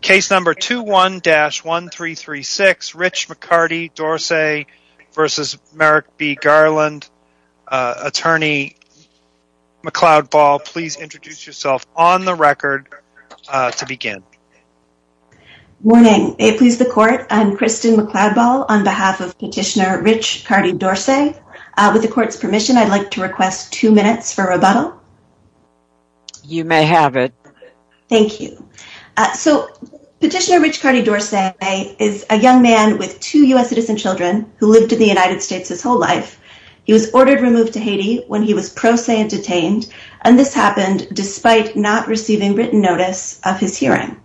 Case number 21-1336, Rich McCarty Dorce v. Merrick B. Garland, Attorney McLeod Ball. Please introduce yourself on the record to begin. Morning. It pleases the Court. I'm Kristen McLeod Ball on behalf of Petitioner Rich McCarty Dorce. With the Court's permission, I'd like to request two minutes for rebuttal. You may have it. Thank you. So, Petitioner Rich McCarty Dorce is a young man with two U.S. citizen children who lived in the United States his whole life. He was ordered removed to Haiti when he was pro se and detained, and this happened despite not receiving written notice of his hearing.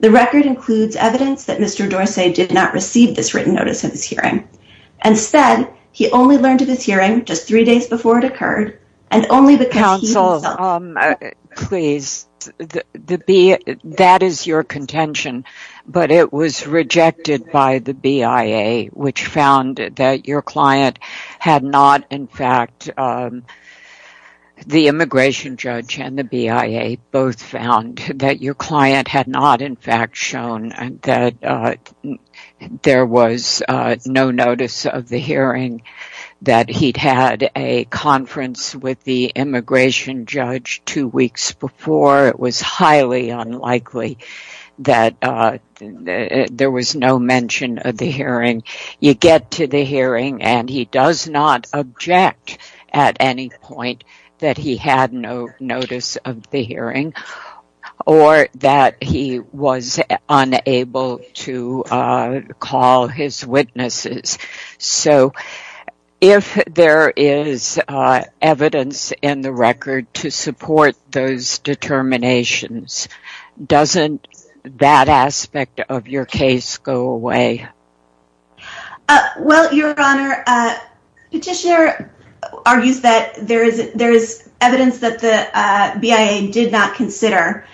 The record includes evidence that Mr. Dorce did not receive this written notice of his hearing. Instead, he only learned of his hearing just three days before it occurred, and only because he himself… Please, that is your contention, but it was rejected by the BIA, which found that your client had not in fact… The immigration judge and the BIA both found that your client had not in fact shown that there was no notice of the hearing, that he'd had a conference with the immigration judge two weeks before. It was highly unlikely that there was no mention of the hearing. You get to the hearing, and he does not object at any point that he had no notice of the hearing or that he was unable to call his witnesses. So, if there is evidence in the record to support those determinations, doesn't that aspect of your case go away? Well, Your Honor, Petitioner argues that there is evidence that the BIA did not consider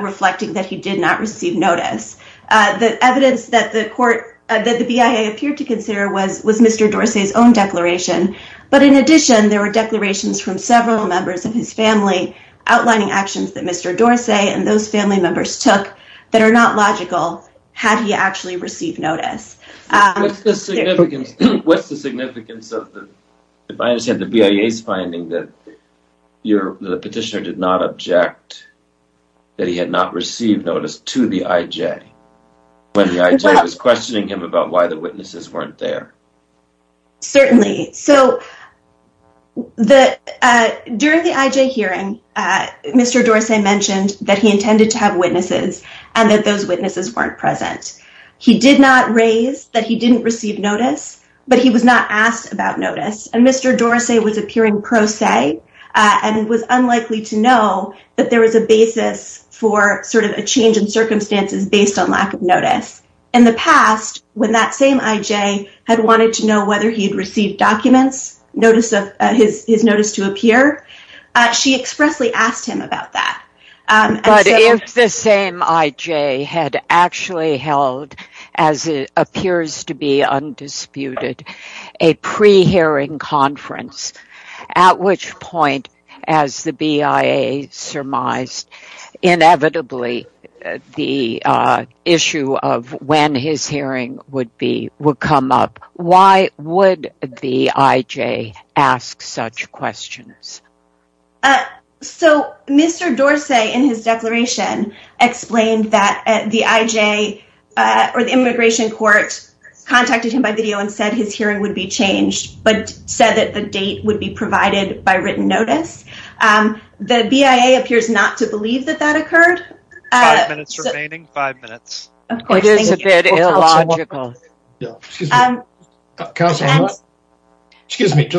reflecting that he did not receive notice. The evidence that the BIA appeared to consider was Mr. Dorce's own declaration. But in addition, there were declarations from several members of his family outlining actions that Mr. Dorce and those family members took that are not logical had he actually received notice. What's the significance of the BIA's finding that the petitioner did not object that he had not received notice to the IJ when the IJ was questioning him about why the witnesses weren't there? Certainly. So, during the IJ hearing, Mr. Dorce mentioned that he intended to have witnesses and that those witnesses weren't present. He did not raise that he didn't receive notice, but he was not asked about notice. And Mr. Dorce was appearing pro se and was unlikely to know that there was a basis for sort of a change in circumstances based on lack of notice. In the past, when that same IJ had wanted to know whether he had received documents, his notice to appear, she expressly asked him about that. But if the same IJ had actually held, as it appears to be undisputed, a pre-hearing conference, at which point, as the BIA surmised, inevitably the issue of when his hearing would come up, why would the IJ ask such questions? So, Mr. Dorce, in his declaration, explained that the IJ, or the immigration court, contacted him by video and said his hearing would be changed, but said that the date would be provided by written notice. The BIA appears not to believe that that occurred. Five minutes remaining. Five minutes. It is a bit illogical. Judge Lynch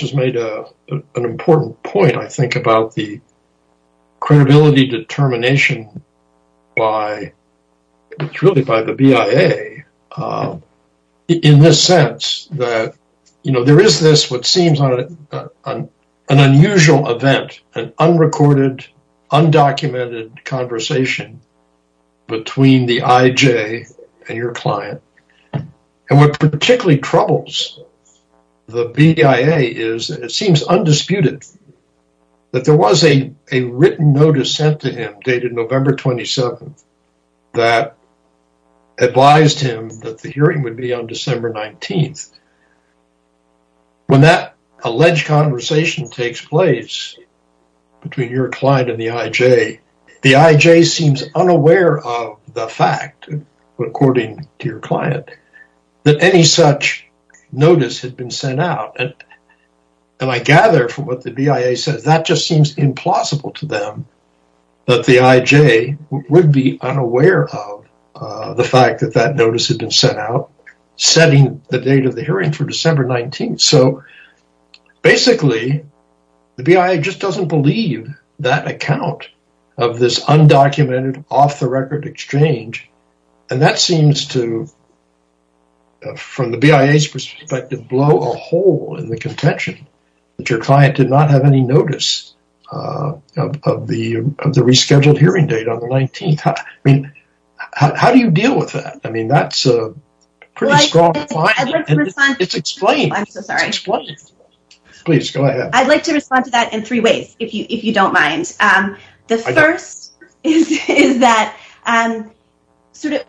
has made an important point, I think, about the credibility determination by the BIA in the sense that there is this, what seems like an unusual event, an unrecorded, undocumented conversation. Between the IJ and your client. And what particularly troubles the BIA is that it seems undisputed that there was a written notice sent to him, dated November 27th, that advised him that the hearing would be on December 19th. When that alleged conversation takes place, between your client and the IJ, the IJ seems unaware of the fact, according to your client, that any such notice had been sent out. And I gather, from what the BIA says, that just seems implausible to them, that the IJ would be unaware of the fact that that notice had been sent out, setting the date of the hearing for December 19th. So, basically, the BIA just doesn't believe that account of this undocumented, off-the-record exchange. And that seems to, from the BIA's perspective, blow a hole in the contention that your client did not have any notice of the rescheduled hearing date on the 19th. How do you deal with that? I'd like to respond to that in three ways, if you don't mind. The first is that,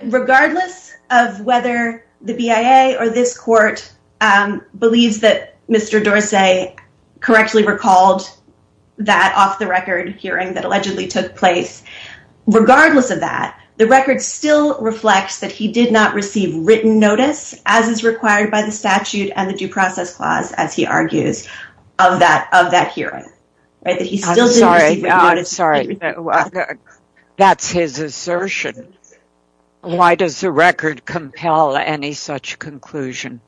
regardless of whether the BIA or this court believes that Mr. Dorsey correctly recalled that off-the-record hearing that allegedly took place, regardless of that, the record still reflects that he did not receive written notice, as is required by the statute and the due process clause, as he argues, of that hearing. I'm sorry. That's his assertion. Why does the record compel any such conclusion?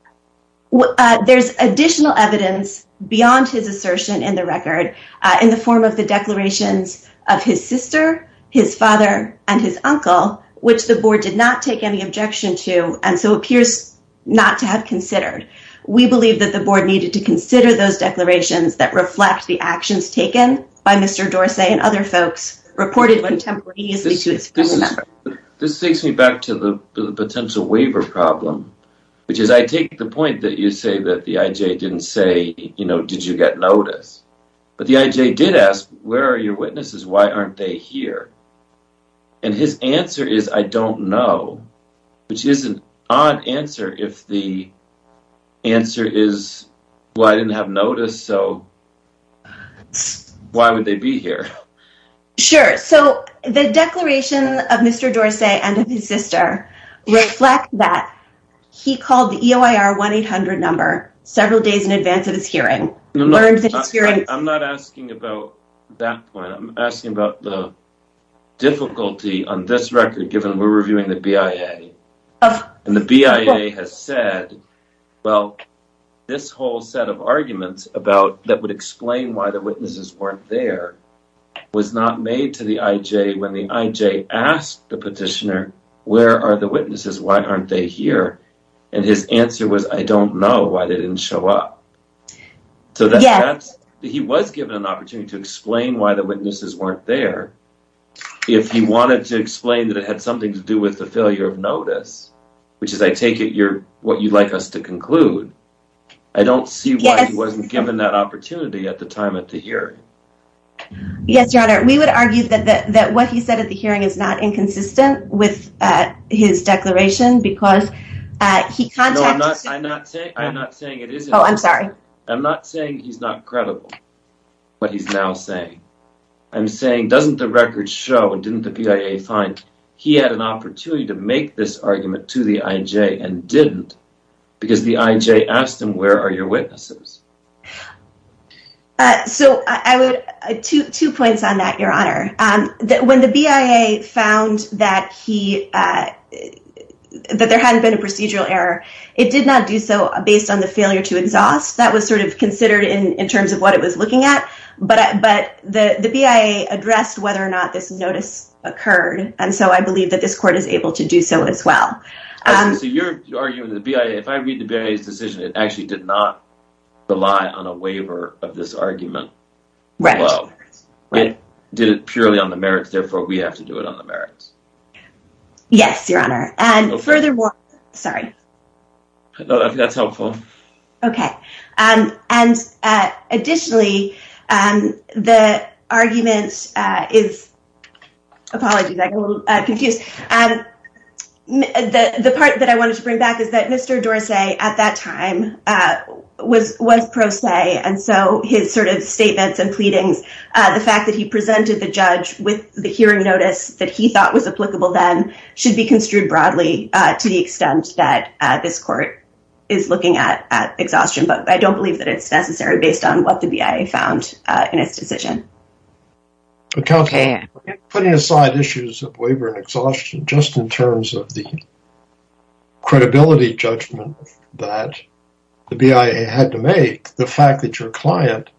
There's additional evidence beyond his assertion in the record, in the form of the declarations of his sister, his father, and his uncle, which the board did not take any objection to, and so appears not to have considered. We believe that the board needed to consider those declarations that reflect the actions taken by Mr. Dorsey and other folks reported contemporaneously to his family member. This takes me back to the potential waiver problem, which is, I take the point that you say that the IJ didn't say, you know, did you get notice? But the IJ did ask, where are your witnesses? Why aren't they here? And his answer is, I don't know, which is an odd answer if the answer is, well, I didn't have notice, so why would they be here? Sure, so the declaration of Mr. Dorsey and of his sister reflect that he called the EOIR 1-800 number several days in advance of this hearing. I'm not asking about that point. I'm asking about the difficulty on this record, given we're reviewing the BIA. And the BIA has said, well, this whole set of arguments about that would explain why the witnesses weren't there was not made to the IJ when the IJ asked the petitioner, where are the witnesses? Why aren't they here? And his answer was, I don't know why they didn't show up. So he was given an opportunity to explain why the witnesses weren't there. If he wanted to explain that it had something to do with the failure of notice, which is, I take it, what you'd like us to conclude. I don't see why he wasn't given that opportunity at the time of the hearing. Yes, Your Honor, we would argue that what he said at the hearing is not inconsistent with his declaration because he contacted... I'm not saying it isn't. Oh, I'm sorry. I'm not saying he's not credible, what he's now saying. I'm saying, doesn't the record show and didn't the BIA find he had an opportunity to make this argument to the IJ and didn't because the IJ asked him, where are your witnesses? So two points on that, Your Honor. When the BIA found that there hadn't been a procedural error, it did not do so based on the failure to exhaust. That was sort of considered in terms of what it was looking at. But the BIA addressed whether or not this notice occurred. And so I believe that this court is able to do so as well. So you're arguing that if I read the BIA's decision, it actually did not rely on a waiver of this argument. Right. It did it purely on the merits. Therefore, we have to do it on the merits. Yes, Your Honor. And furthermore. Sorry. That's helpful. OK. And additionally, the argument is. Apologies, I got a little confused. The part that I wanted to bring back is that Mr. Dorsey at that time was was pro se. And so his sort of statements and pleadings, the fact that he presented the judge with the hearing notice that he thought was applicable, then should be construed broadly to the extent that this court is looking at exhaustion. But I don't believe that it's necessary based on what the BIA found in its decision. Putting aside issues of waiver and exhaustion, just in terms of the credibility judgment that the BIA had to make, the fact that your client,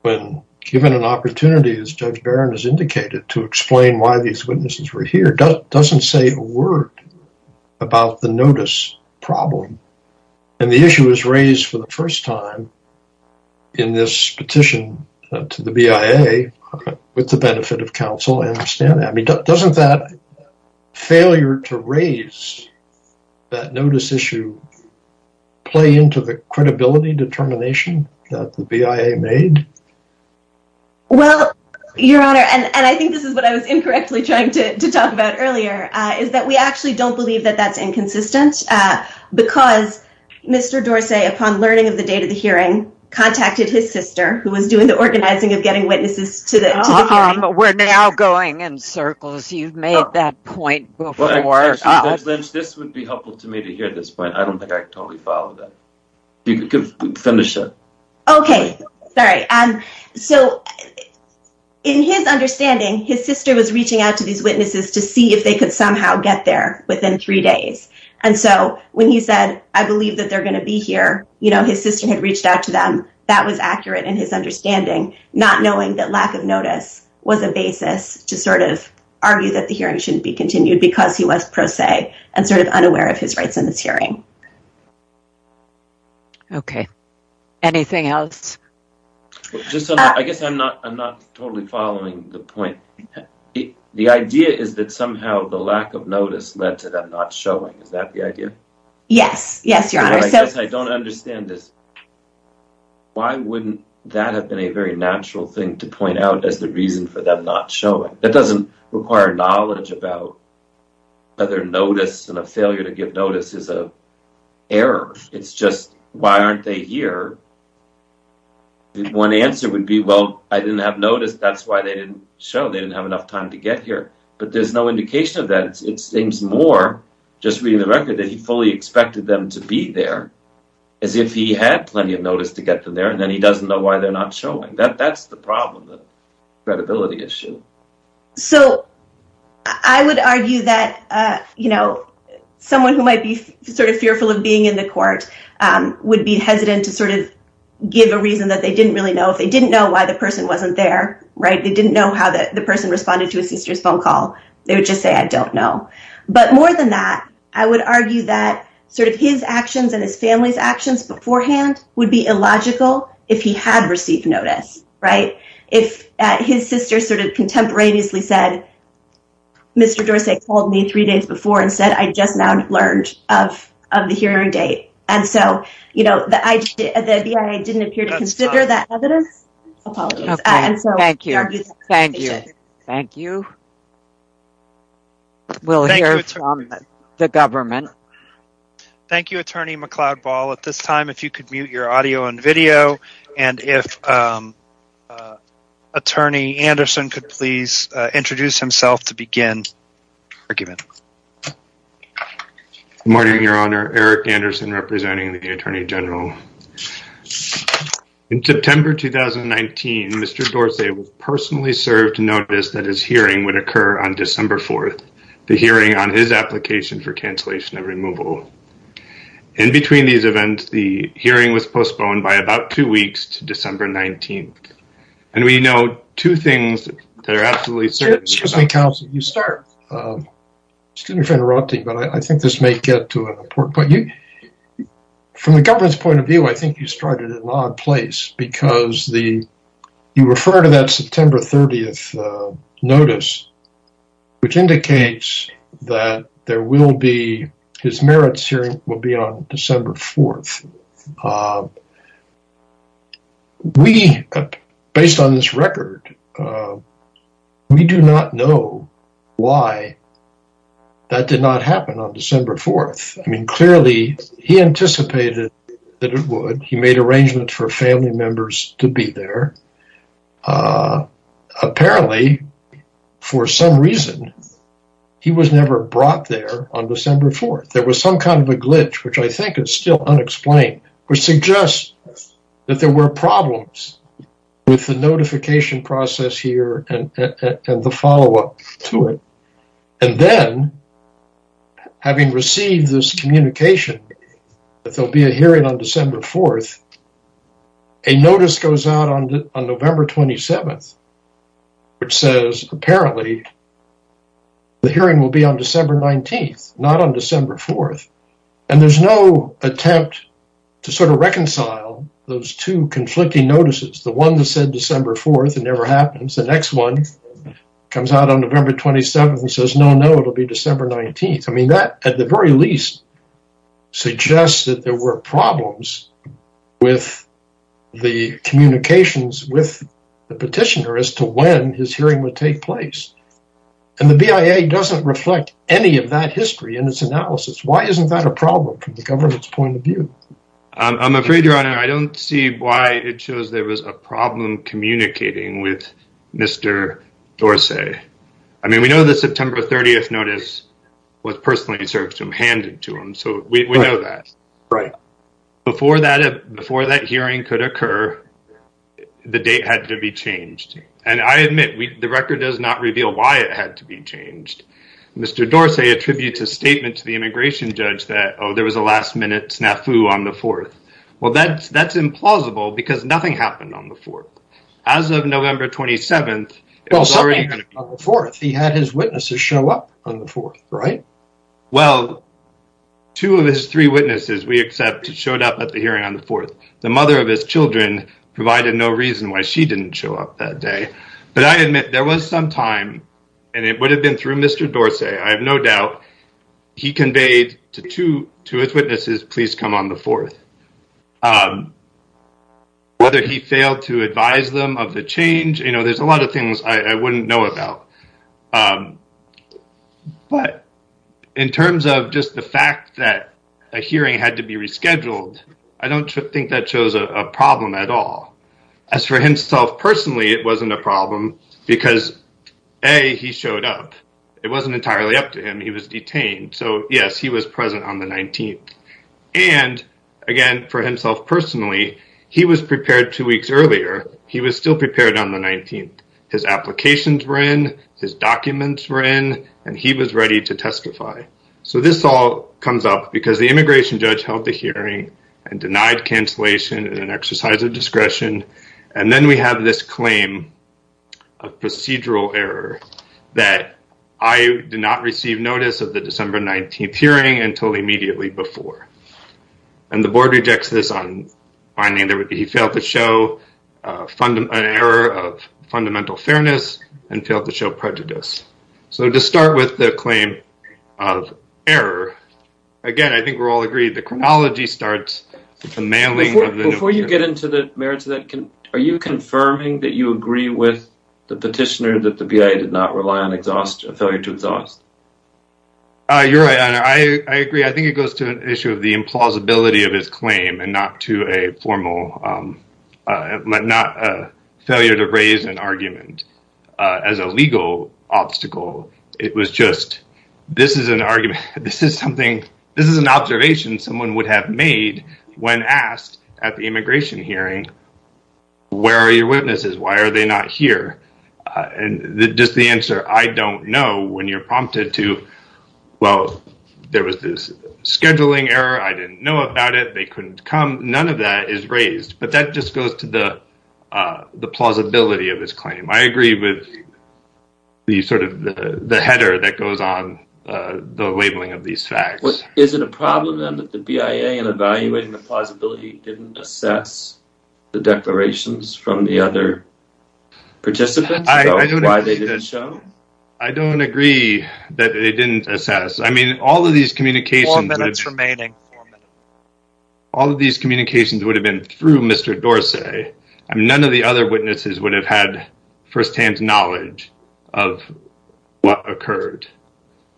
when given an opportunity, as Judge Barron has indicated, to explain why these witnesses were here, doesn't say a word about the notice problem. And the issue was raised for the first time in this petition to the BIA with the benefit of counsel. I understand that. I mean, doesn't that failure to raise that notice issue play into the credibility determination that the BIA made? Well, Your Honor, and I think this is what I was incorrectly trying to talk about earlier, is that we actually don't believe that that's inconsistent. Because Mr. Dorsey, upon learning of the date of the hearing, contacted his sister, who was doing the organizing of getting witnesses to the hearing. We're now going in circles. You've made that point before. This would be helpful to me to hear this point. I don't think I could totally follow that. You could finish it. Okay. Sorry. So, in his understanding, his sister was reaching out to these witnesses to see if they could somehow get there within three days. And so, when he said, I believe that they're going to be here, you know, his sister had reached out to them. That was accurate in his understanding, not knowing that lack of notice was a basis to sort of argue that the hearing shouldn't be continued, because he was pro se and sort of unaware of his rights in this hearing. Okay. Anything else? I guess I'm not totally following the point. The idea is that somehow the lack of notice led to them not showing. Is that the idea? Yes. Yes, Your Honor. I guess I don't understand this. Why wouldn't that have been a very natural thing to point out as the reason for them not showing? It doesn't require knowledge about whether notice and a failure to give notice is an error. It's just, why aren't they here? One answer would be, well, I didn't have notice. That's why they didn't show. They didn't have enough time to get here. But there's no indication of that. It seems more, just reading the record, that he fully expected them to be there, as if he had plenty of notice to get them there, and then he doesn't know why they're not showing. That's the problem, the credibility issue. So I would argue that, you know, someone who might be sort of fearful of being in the court would be hesitant to sort of give a reason that they didn't really know. If they didn't know why the person wasn't there, right, they didn't know how the person responded to his sister's phone call. They would just say, I don't know. But more than that, I would argue that sort of his actions and his family's actions beforehand would be illogical if he had received notice, right? If his sister sort of contemporaneously said, Mr. Dorsey called me three days before and said, I just now learned of the hearing date. And so, you know, the BIA didn't appear to consider that evidence. Apologies. Thank you. Thank you. Thank you. We'll hear from the government. Thank you, Attorney McCloud-Ball. At this time, if you could mute your audio and video, and if Attorney Anderson could please introduce himself to begin the argument. Good morning, Your Honor. Eric Anderson representing the Attorney General. In September 2019, Mr. Dorsey personally served notice that his hearing would occur on December 4th, the hearing on his application for cancellation of removal. In between these events, the hearing was postponed by about two weeks to December 19th. And we know two things that are absolutely certain. Excuse me, counsel. You start. Excuse me for interrupting, but I think this may get to an important point. From the government's point of view, I think you started in the wrong place because you refer to that September 30th notice, which indicates that there will be, his merits hearing will be on December 4th. We, based on this record, we do not know why that did not happen on December 4th. I mean, clearly, he anticipated that it would. He made arrangements for family members to be there. Apparently, for some reason, he was never brought there on December 4th. There was some kind of a glitch, which I think is still unexplained, which suggests that there were problems with the notification process here and the follow-up to it. And then, having received this communication that there will be a hearing on December 4th, a notice goes out on November 27th, which says, apparently, the hearing will be on December 19th, not on December 4th. And there's no attempt to sort of reconcile those two conflicting notices. The one that said December 4th, it never happens. The next one comes out on November 27th and says, no, no, it'll be December 19th. I mean, that, at the very least, suggests that there were problems with the communications with the petitioner as to when his hearing would take place. And the BIA doesn't reflect any of that history in its analysis. Why isn't that a problem from the government's point of view? I'm afraid, Your Honor, I don't see why it shows there was a problem communicating with Mr. Dorsey. I mean, we know the September 30th notice was personally served to him, handed to him, so we know that. Right. Before that hearing could occur, the date had to be changed. And I admit, the record does not reveal why it had to be changed. Mr. Dorsey attributes a statement to the immigration judge that, oh, there was a last-minute snafu on the 4th. Well, that's implausible because nothing happened on the 4th. As of November 27th, it was already on the 4th. He had his witnesses show up on the 4th, right? Well, two of his three witnesses, we accept, showed up at the hearing on the 4th. The mother of his children provided no reason why she didn't show up that day. But I admit there was some time, and it would have been through Mr. Dorsey, I have no doubt, he conveyed to his witnesses, please come on the 4th. Whether he failed to advise them of the change, you know, there's a lot of things I wouldn't know about. But in terms of just the fact that a hearing had to be rescheduled, I don't think that shows a problem at all. As for himself personally, it wasn't a problem because, A, he showed up. It wasn't entirely up to him. He was detained. So, yes, he was present on the 19th. And, again, for himself personally, he was prepared two weeks earlier. He was still prepared on the 19th. His applications were in, his documents were in, and he was ready to testify. So this all comes up because the immigration judge held the hearing and denied cancellation in an exercise of discretion. And then we have this claim of procedural error that I did not receive notice of the December 19th hearing until immediately before. And the board rejects this on finding that he failed to show an error of fundamental fairness and failed to show prejudice. So to start with the claim of error, again, I think we're all agreed the chronology starts with the mailing. Before you get into the merits of that, are you confirming that you agree with the petitioner that the BIA did not rely on a failure to exhaust? You're right. I agree. I think it goes to an issue of the implausibility of his claim and not to a formal but not a failure to raise an argument as a legal obstacle. It was just this is an argument. This is something this is an observation someone would have made when asked at the immigration hearing. Where are your witnesses? Why are they not here? Just the answer. I don't know when you're prompted to. Well, there was this scheduling error. I didn't know about it. They couldn't come. None of that is raised. But that just goes to the plausibility of this claim. I agree with the sort of the header that goes on the labeling of these facts. Is it a problem that the BIA in evaluating the plausibility didn't assess the declarations from the other participants? I don't know why they didn't show. I don't agree that they didn't assess. I mean, all of these communications would have been through Mr. Dorsey. None of the other witnesses would have had firsthand knowledge of what occurred.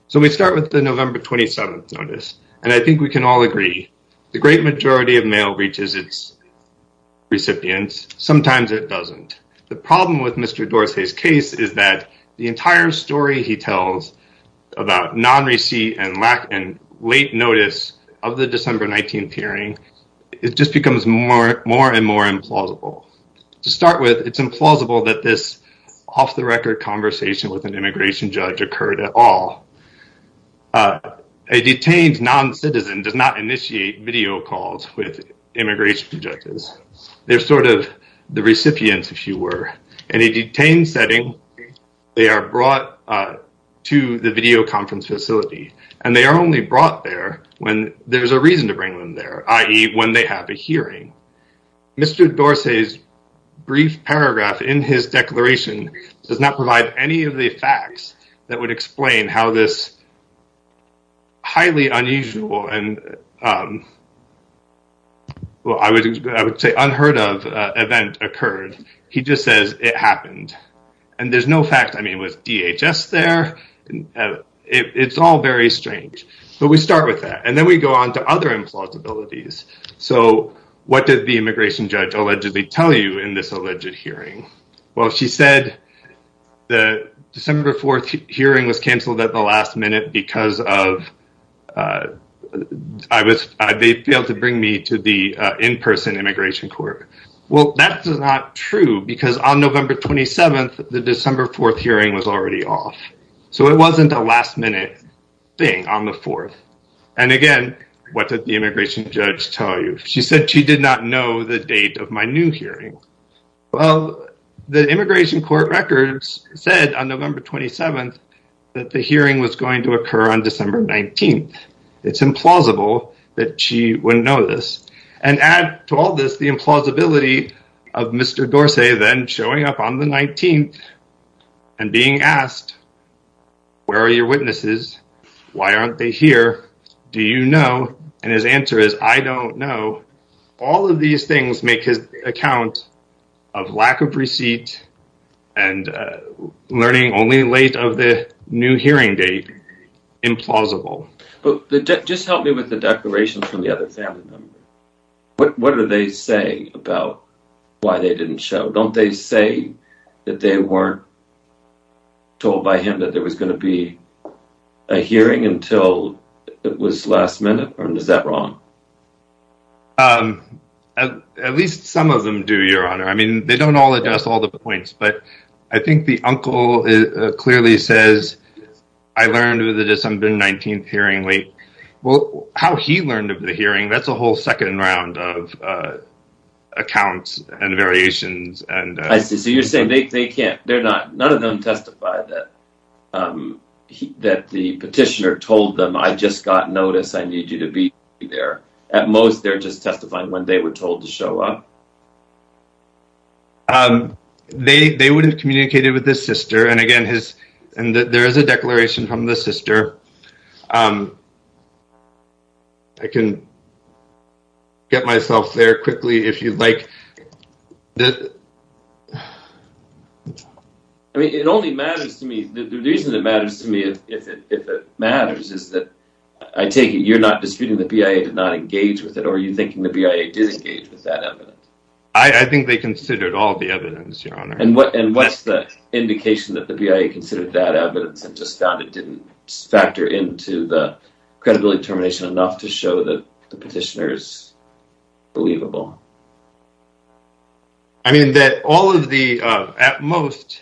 So we start with the November 27th notice. And I think we can all agree the great majority of mail reaches its recipients. Sometimes it doesn't. The problem with Mr. Dorsey's case is that the entire story he tells about non-receipt and late notice of the December 19th hearing, it just becomes more and more implausible. To start with, it's implausible that this off-the-record conversation with an immigration judge occurred at all. A detained non-citizen does not initiate video calls with immigration judges. They're sort of the recipients, if you were. In a detained setting, they are brought to the videoconference facility. And they are only brought there when there's a reason to bring them there, i.e., when they have a hearing. Mr. Dorsey's brief paragraph in his declaration does not provide any of the facts that would explain how this highly unusual and, well, I would say unheard of event occurred. He just says it happened. And there's no fact, I mean, was DHS there? It's all very strange. But we start with that. And then we go on to other implausibilities. So what did the immigration judge allegedly tell you in this alleged hearing? Well, she said the December 4th hearing was canceled at the last minute because of they failed to bring me to the in-person immigration court. Well, that's not true, because on November 27th, the December 4th hearing was already off. So it wasn't a last-minute thing on the 4th. And, again, what did the immigration judge tell you? She said she did not know the date of my new hearing. Well, the immigration court records said on November 27th that the hearing was going to occur on December 19th. It's implausible that she wouldn't know this. And add to all this the implausibility of Mr. Dorsey then showing up on the 19th and being asked, where are your witnesses? Why aren't they here? Do you know? And his answer is, I don't know. All of these things make his account of lack of receipt and learning only late of the new hearing date implausible. But just help me with the declaration from the other family member. What do they say about why they didn't show? Don't they say that they weren't told by him that there was going to be a hearing until it was last minute? Or is that wrong? At least some of them do, Your Honor. I mean, they don't all address all the points. But I think the uncle clearly says, I learned of the December 19th hearing late. Well, how he learned of the hearing, that's a whole second round of accounts and variations. I see. So you're saying none of them testified that the petitioner told them, I just got notice, I need you to be there. At most, they're just testifying when they were told to show up. They would have communicated with the sister. And, again, there is a declaration from the sister. I can get myself there quickly if you'd like. I mean, it only matters to me. The reason it matters to me, if it matters, is that I take it you're not disputing the BIA did not engage with it. Are you thinking the BIA did engage with that evidence? I think they considered all the evidence, Your Honor. And what's the indication that the BIA considered that evidence and just found it didn't factor into the credibility determination enough to show that the petitioner is believable? I mean, that all of the at most.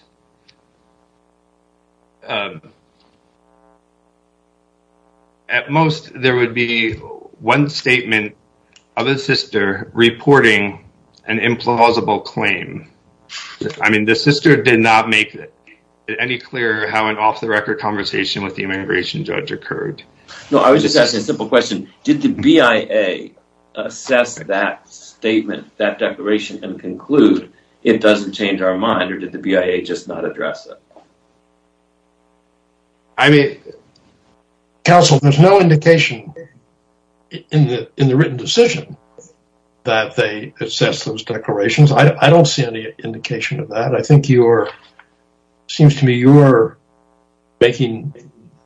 At most, there would be one statement of a sister reporting an implausible claim. I mean, the sister did not make it any clearer how an off the record conversation with the immigration judge occurred. No, I was just asking a simple question. Did the BIA assess that statement, that declaration, and conclude it doesn't change our mind? Or did the BIA just not address it? I mean, counsel, there's no indication in the written decision that they assessed those declarations. I don't see any indication of that. But I think you're seems to me you're making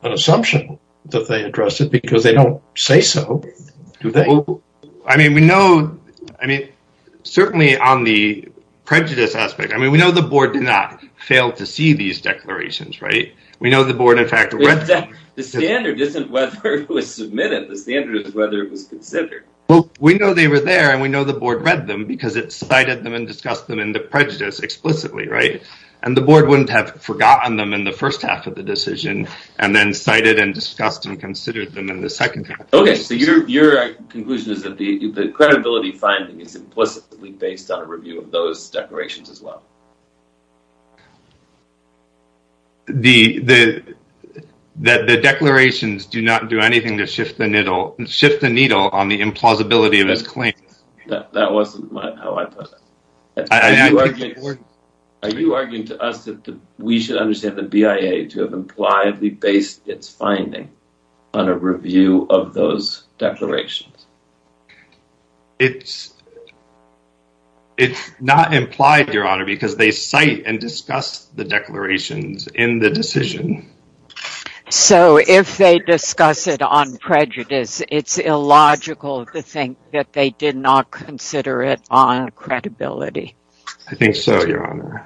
an assumption that they addressed it because they don't say so. I mean, we know. I mean, certainly on the prejudice aspect. I mean, we know the board did not fail to see these declarations. Right. We know the board, in fact, the standard isn't whether it was submitted. The standard is whether it was considered. Well, we know they were there and we know the board read them because it cited them and discussed them in the prejudice explicitly. Right. And the board wouldn't have forgotten them in the first half of the decision and then cited and discussed and considered them in the second. OK, so your conclusion is that the credibility finding is implicitly based on a review of those declarations as well. The the that the declarations do not do anything to shift the needle and shift the needle on the implausibility of his claims. That wasn't how I put it. Are you arguing to us that we should understand the BIA to have impliedly based its finding on a review of those declarations? It's. It's not implied, Your Honor, because they cite and discuss the declarations in the decision. So if they discuss it on prejudice, it's illogical to think that they did not consider it on credibility. I think so, Your Honor.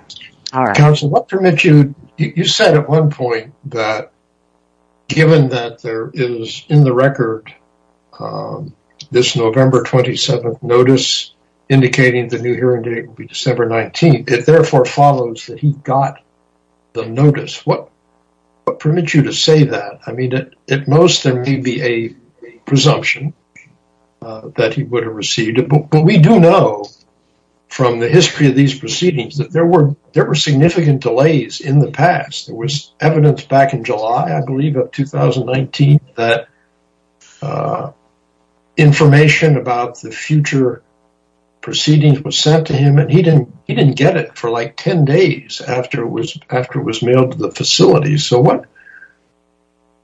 Counsel, what permits you. You said at one point that given that there is in the record this November 27th notice indicating the new hearing date will be December 19th. It therefore follows that he got the notice. What what permits you to say that? I mean, at most, there may be a presumption that he would have received it. But we do know from the history of these proceedings that there were there were significant delays in the past. There was evidence back in July, I believe, of 2019 that information about the future proceedings was sent to him. And he didn't he didn't get it for like 10 days after it was after it was mailed to the facility. So what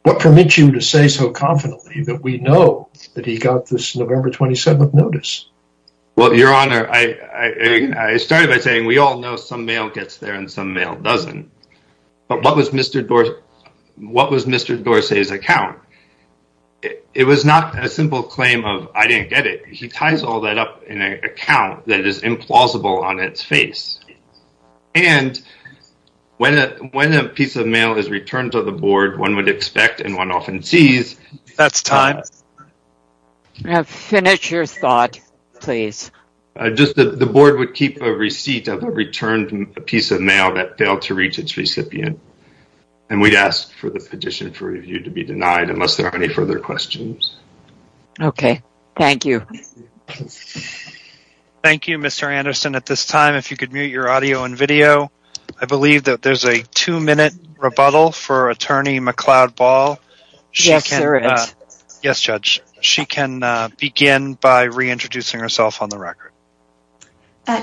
what permits you to say so confidently that we know that he got this November 27th notice? Well, Your Honor, I started by saying we all know some mail gets there and some mail doesn't. But what was Mr. Dorsey's account? It was not a simple claim of I didn't get it. He ties all that up in an account that is implausible on its face. And when when a piece of mail is returned to the board, one would expect and one often sees. That's time. Finish your thought, please. The board would keep a receipt of a returned piece of mail that failed to reach its recipient. And we'd ask for the petition for review to be denied unless there are any further questions. OK, thank you. Thank you, Mr. Anderson. At this time, if you could mute your audio and video, I believe that there's a two minute rebuttal for Attorney McLeod Ball. Yes, sir. Yes, Judge. She can begin by reintroducing herself on the record.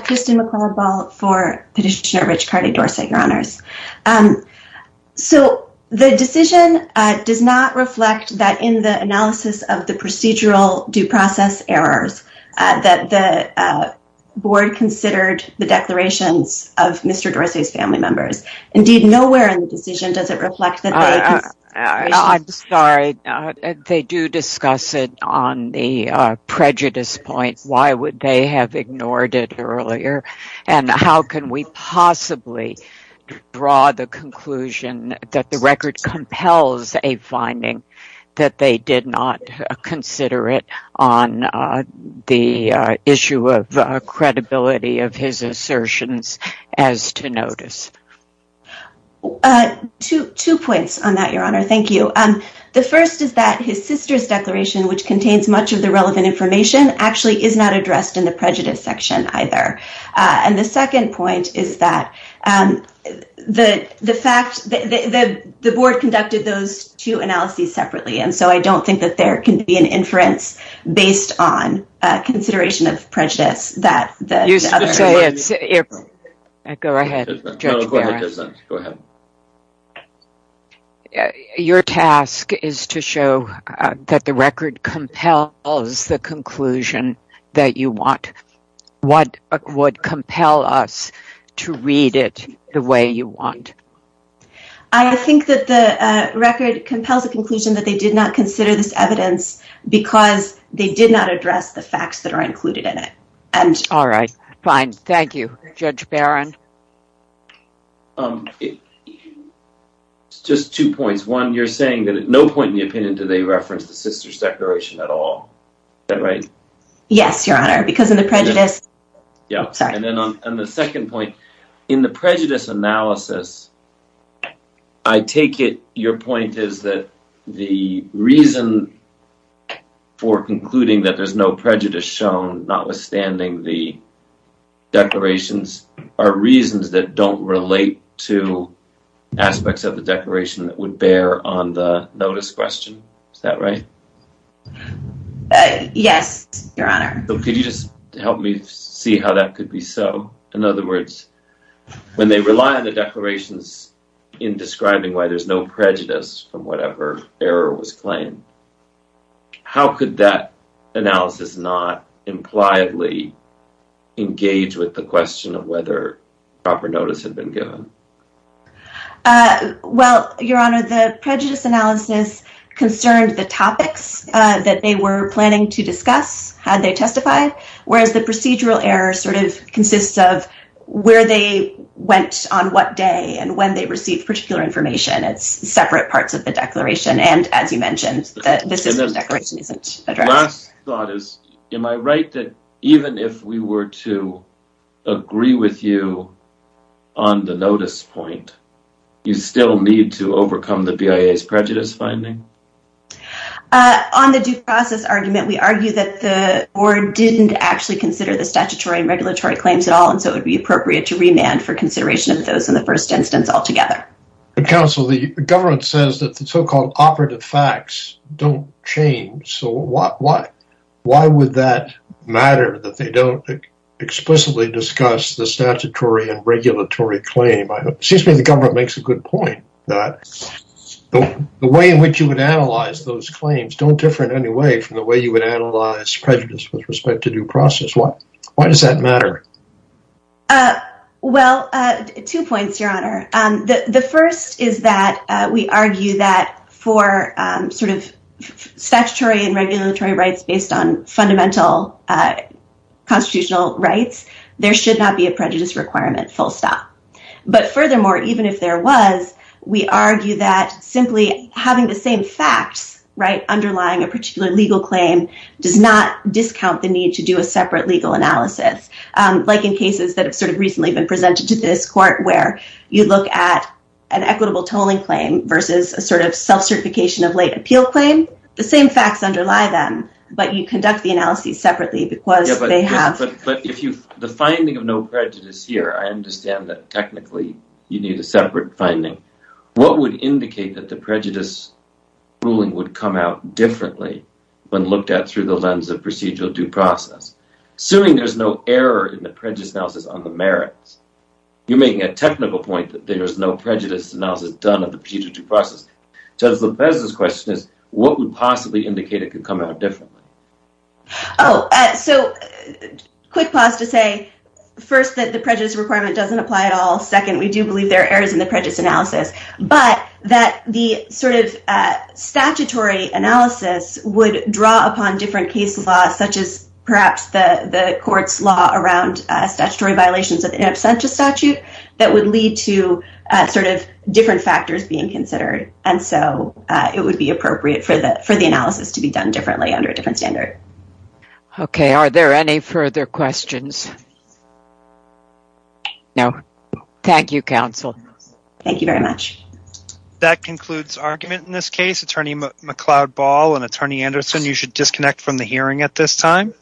Kristen McLeod Ball for Petitioner Rich Cardy Dorsey, Your Honors. So the decision does not reflect that in the analysis of the procedural due process errors that the board considered the declarations of Mr. Dorsey's family members. Indeed, nowhere in the decision does it reflect that. I'm sorry. They do discuss it on the prejudice point. Why would they have ignored it earlier? And how can we possibly draw the conclusion that the record compels a finding that they did not consider it on the issue of credibility of his assertions as to notice? Two points on that, Your Honor. Thank you. The first is that his sister's declaration, which contains much of the relevant information, actually is not addressed in the prejudice section either. And the second point is that the fact that the board conducted those two analyses separately. And so I don't think that there can be an inference based on consideration of prejudice that. Go ahead. Go ahead. Your task is to show that the record compels the conclusion that you want. What would compel us to read it the way you want? I think that the record compels the conclusion that they did not consider this evidence because they did not address the facts that are included in it. All right. Fine. Thank you, Judge Barron. Just two points. One, you're saying that at no point in the opinion do they reference the sister's declaration at all. Is that right? Yes, Your Honor. Because of the prejudice. Yeah. And then on the second point, in the prejudice analysis, I take it your point is that the reason for concluding that there's no prejudice shown, notwithstanding the declarations, are reasons that don't relate to aspects of the declaration that would bear on the notice question. Is that right? Yes, Your Honor. Could you just help me see how that could be so? In other words, when they rely on the declarations in describing why there's no prejudice from whatever error was claimed, how could that analysis not impliedly engage with the question of whether proper notice had been given? Well, Your Honor, the prejudice analysis concerned the topics that they were planning to discuss had they testified, whereas the procedural error sort of consists of where they went on what day and when they received particular information. It's separate parts of the declaration. The last thought is, am I right that even if we were to agree with you on the notice point, you still need to overcome the BIA's prejudice finding? On the due process argument, we argue that the board didn't actually consider the statutory and regulatory claims at all, and so it would be appropriate to remand for consideration of those in the first instance altogether. But, Counsel, the government says that the so-called operative facts don't change, so why would that matter that they don't explicitly discuss the statutory and regulatory claim? It seems to me the government makes a good point that the way in which you would analyze those claims don't differ in any way from the way you would analyze prejudice with respect to due process. Why does that matter? Well, two points, Your Honor. The first is that we argue that for sort of statutory and regulatory rights based on fundamental constitutional rights, there should not be a prejudice requirement, full stop. But furthermore, even if there was, we argue that simply having the same facts underlying a particular legal claim does not discount the need to do a separate legal analysis. Like in cases that have sort of recently been presented to this court where you look at an equitable tolling claim versus a sort of self-certification of late appeal claim, the same facts underlie them, but you conduct the analysis separately because they have… The finding of no prejudice here, I understand that technically you need a separate finding. What would indicate that the prejudice ruling would come out differently when looked at through the lens of procedural due process? Assuming there's no error in the prejudice analysis on the merits, you're making a technical point that there's no prejudice analysis done on the procedural due process. Judge Lopez's question is, what would possibly indicate it could come out differently? Oh, so quick pause to say, first, that the prejudice requirement doesn't apply at all. Second, we do believe there are errors in the prejudice analysis, but that the sort of statutory analysis would draw upon different case laws, such as perhaps the court's law around statutory violations in absentia statute that would lead to sort of different factors being considered. And so, it would be appropriate for the analysis to be done differently under a different standard. Okay. Are there any further questions? No. Thank you, counsel. Thank you very much. That concludes argument in this case. Attorney McLeod Ball and Attorney Anderson, you should disconnect from the hearing at this time.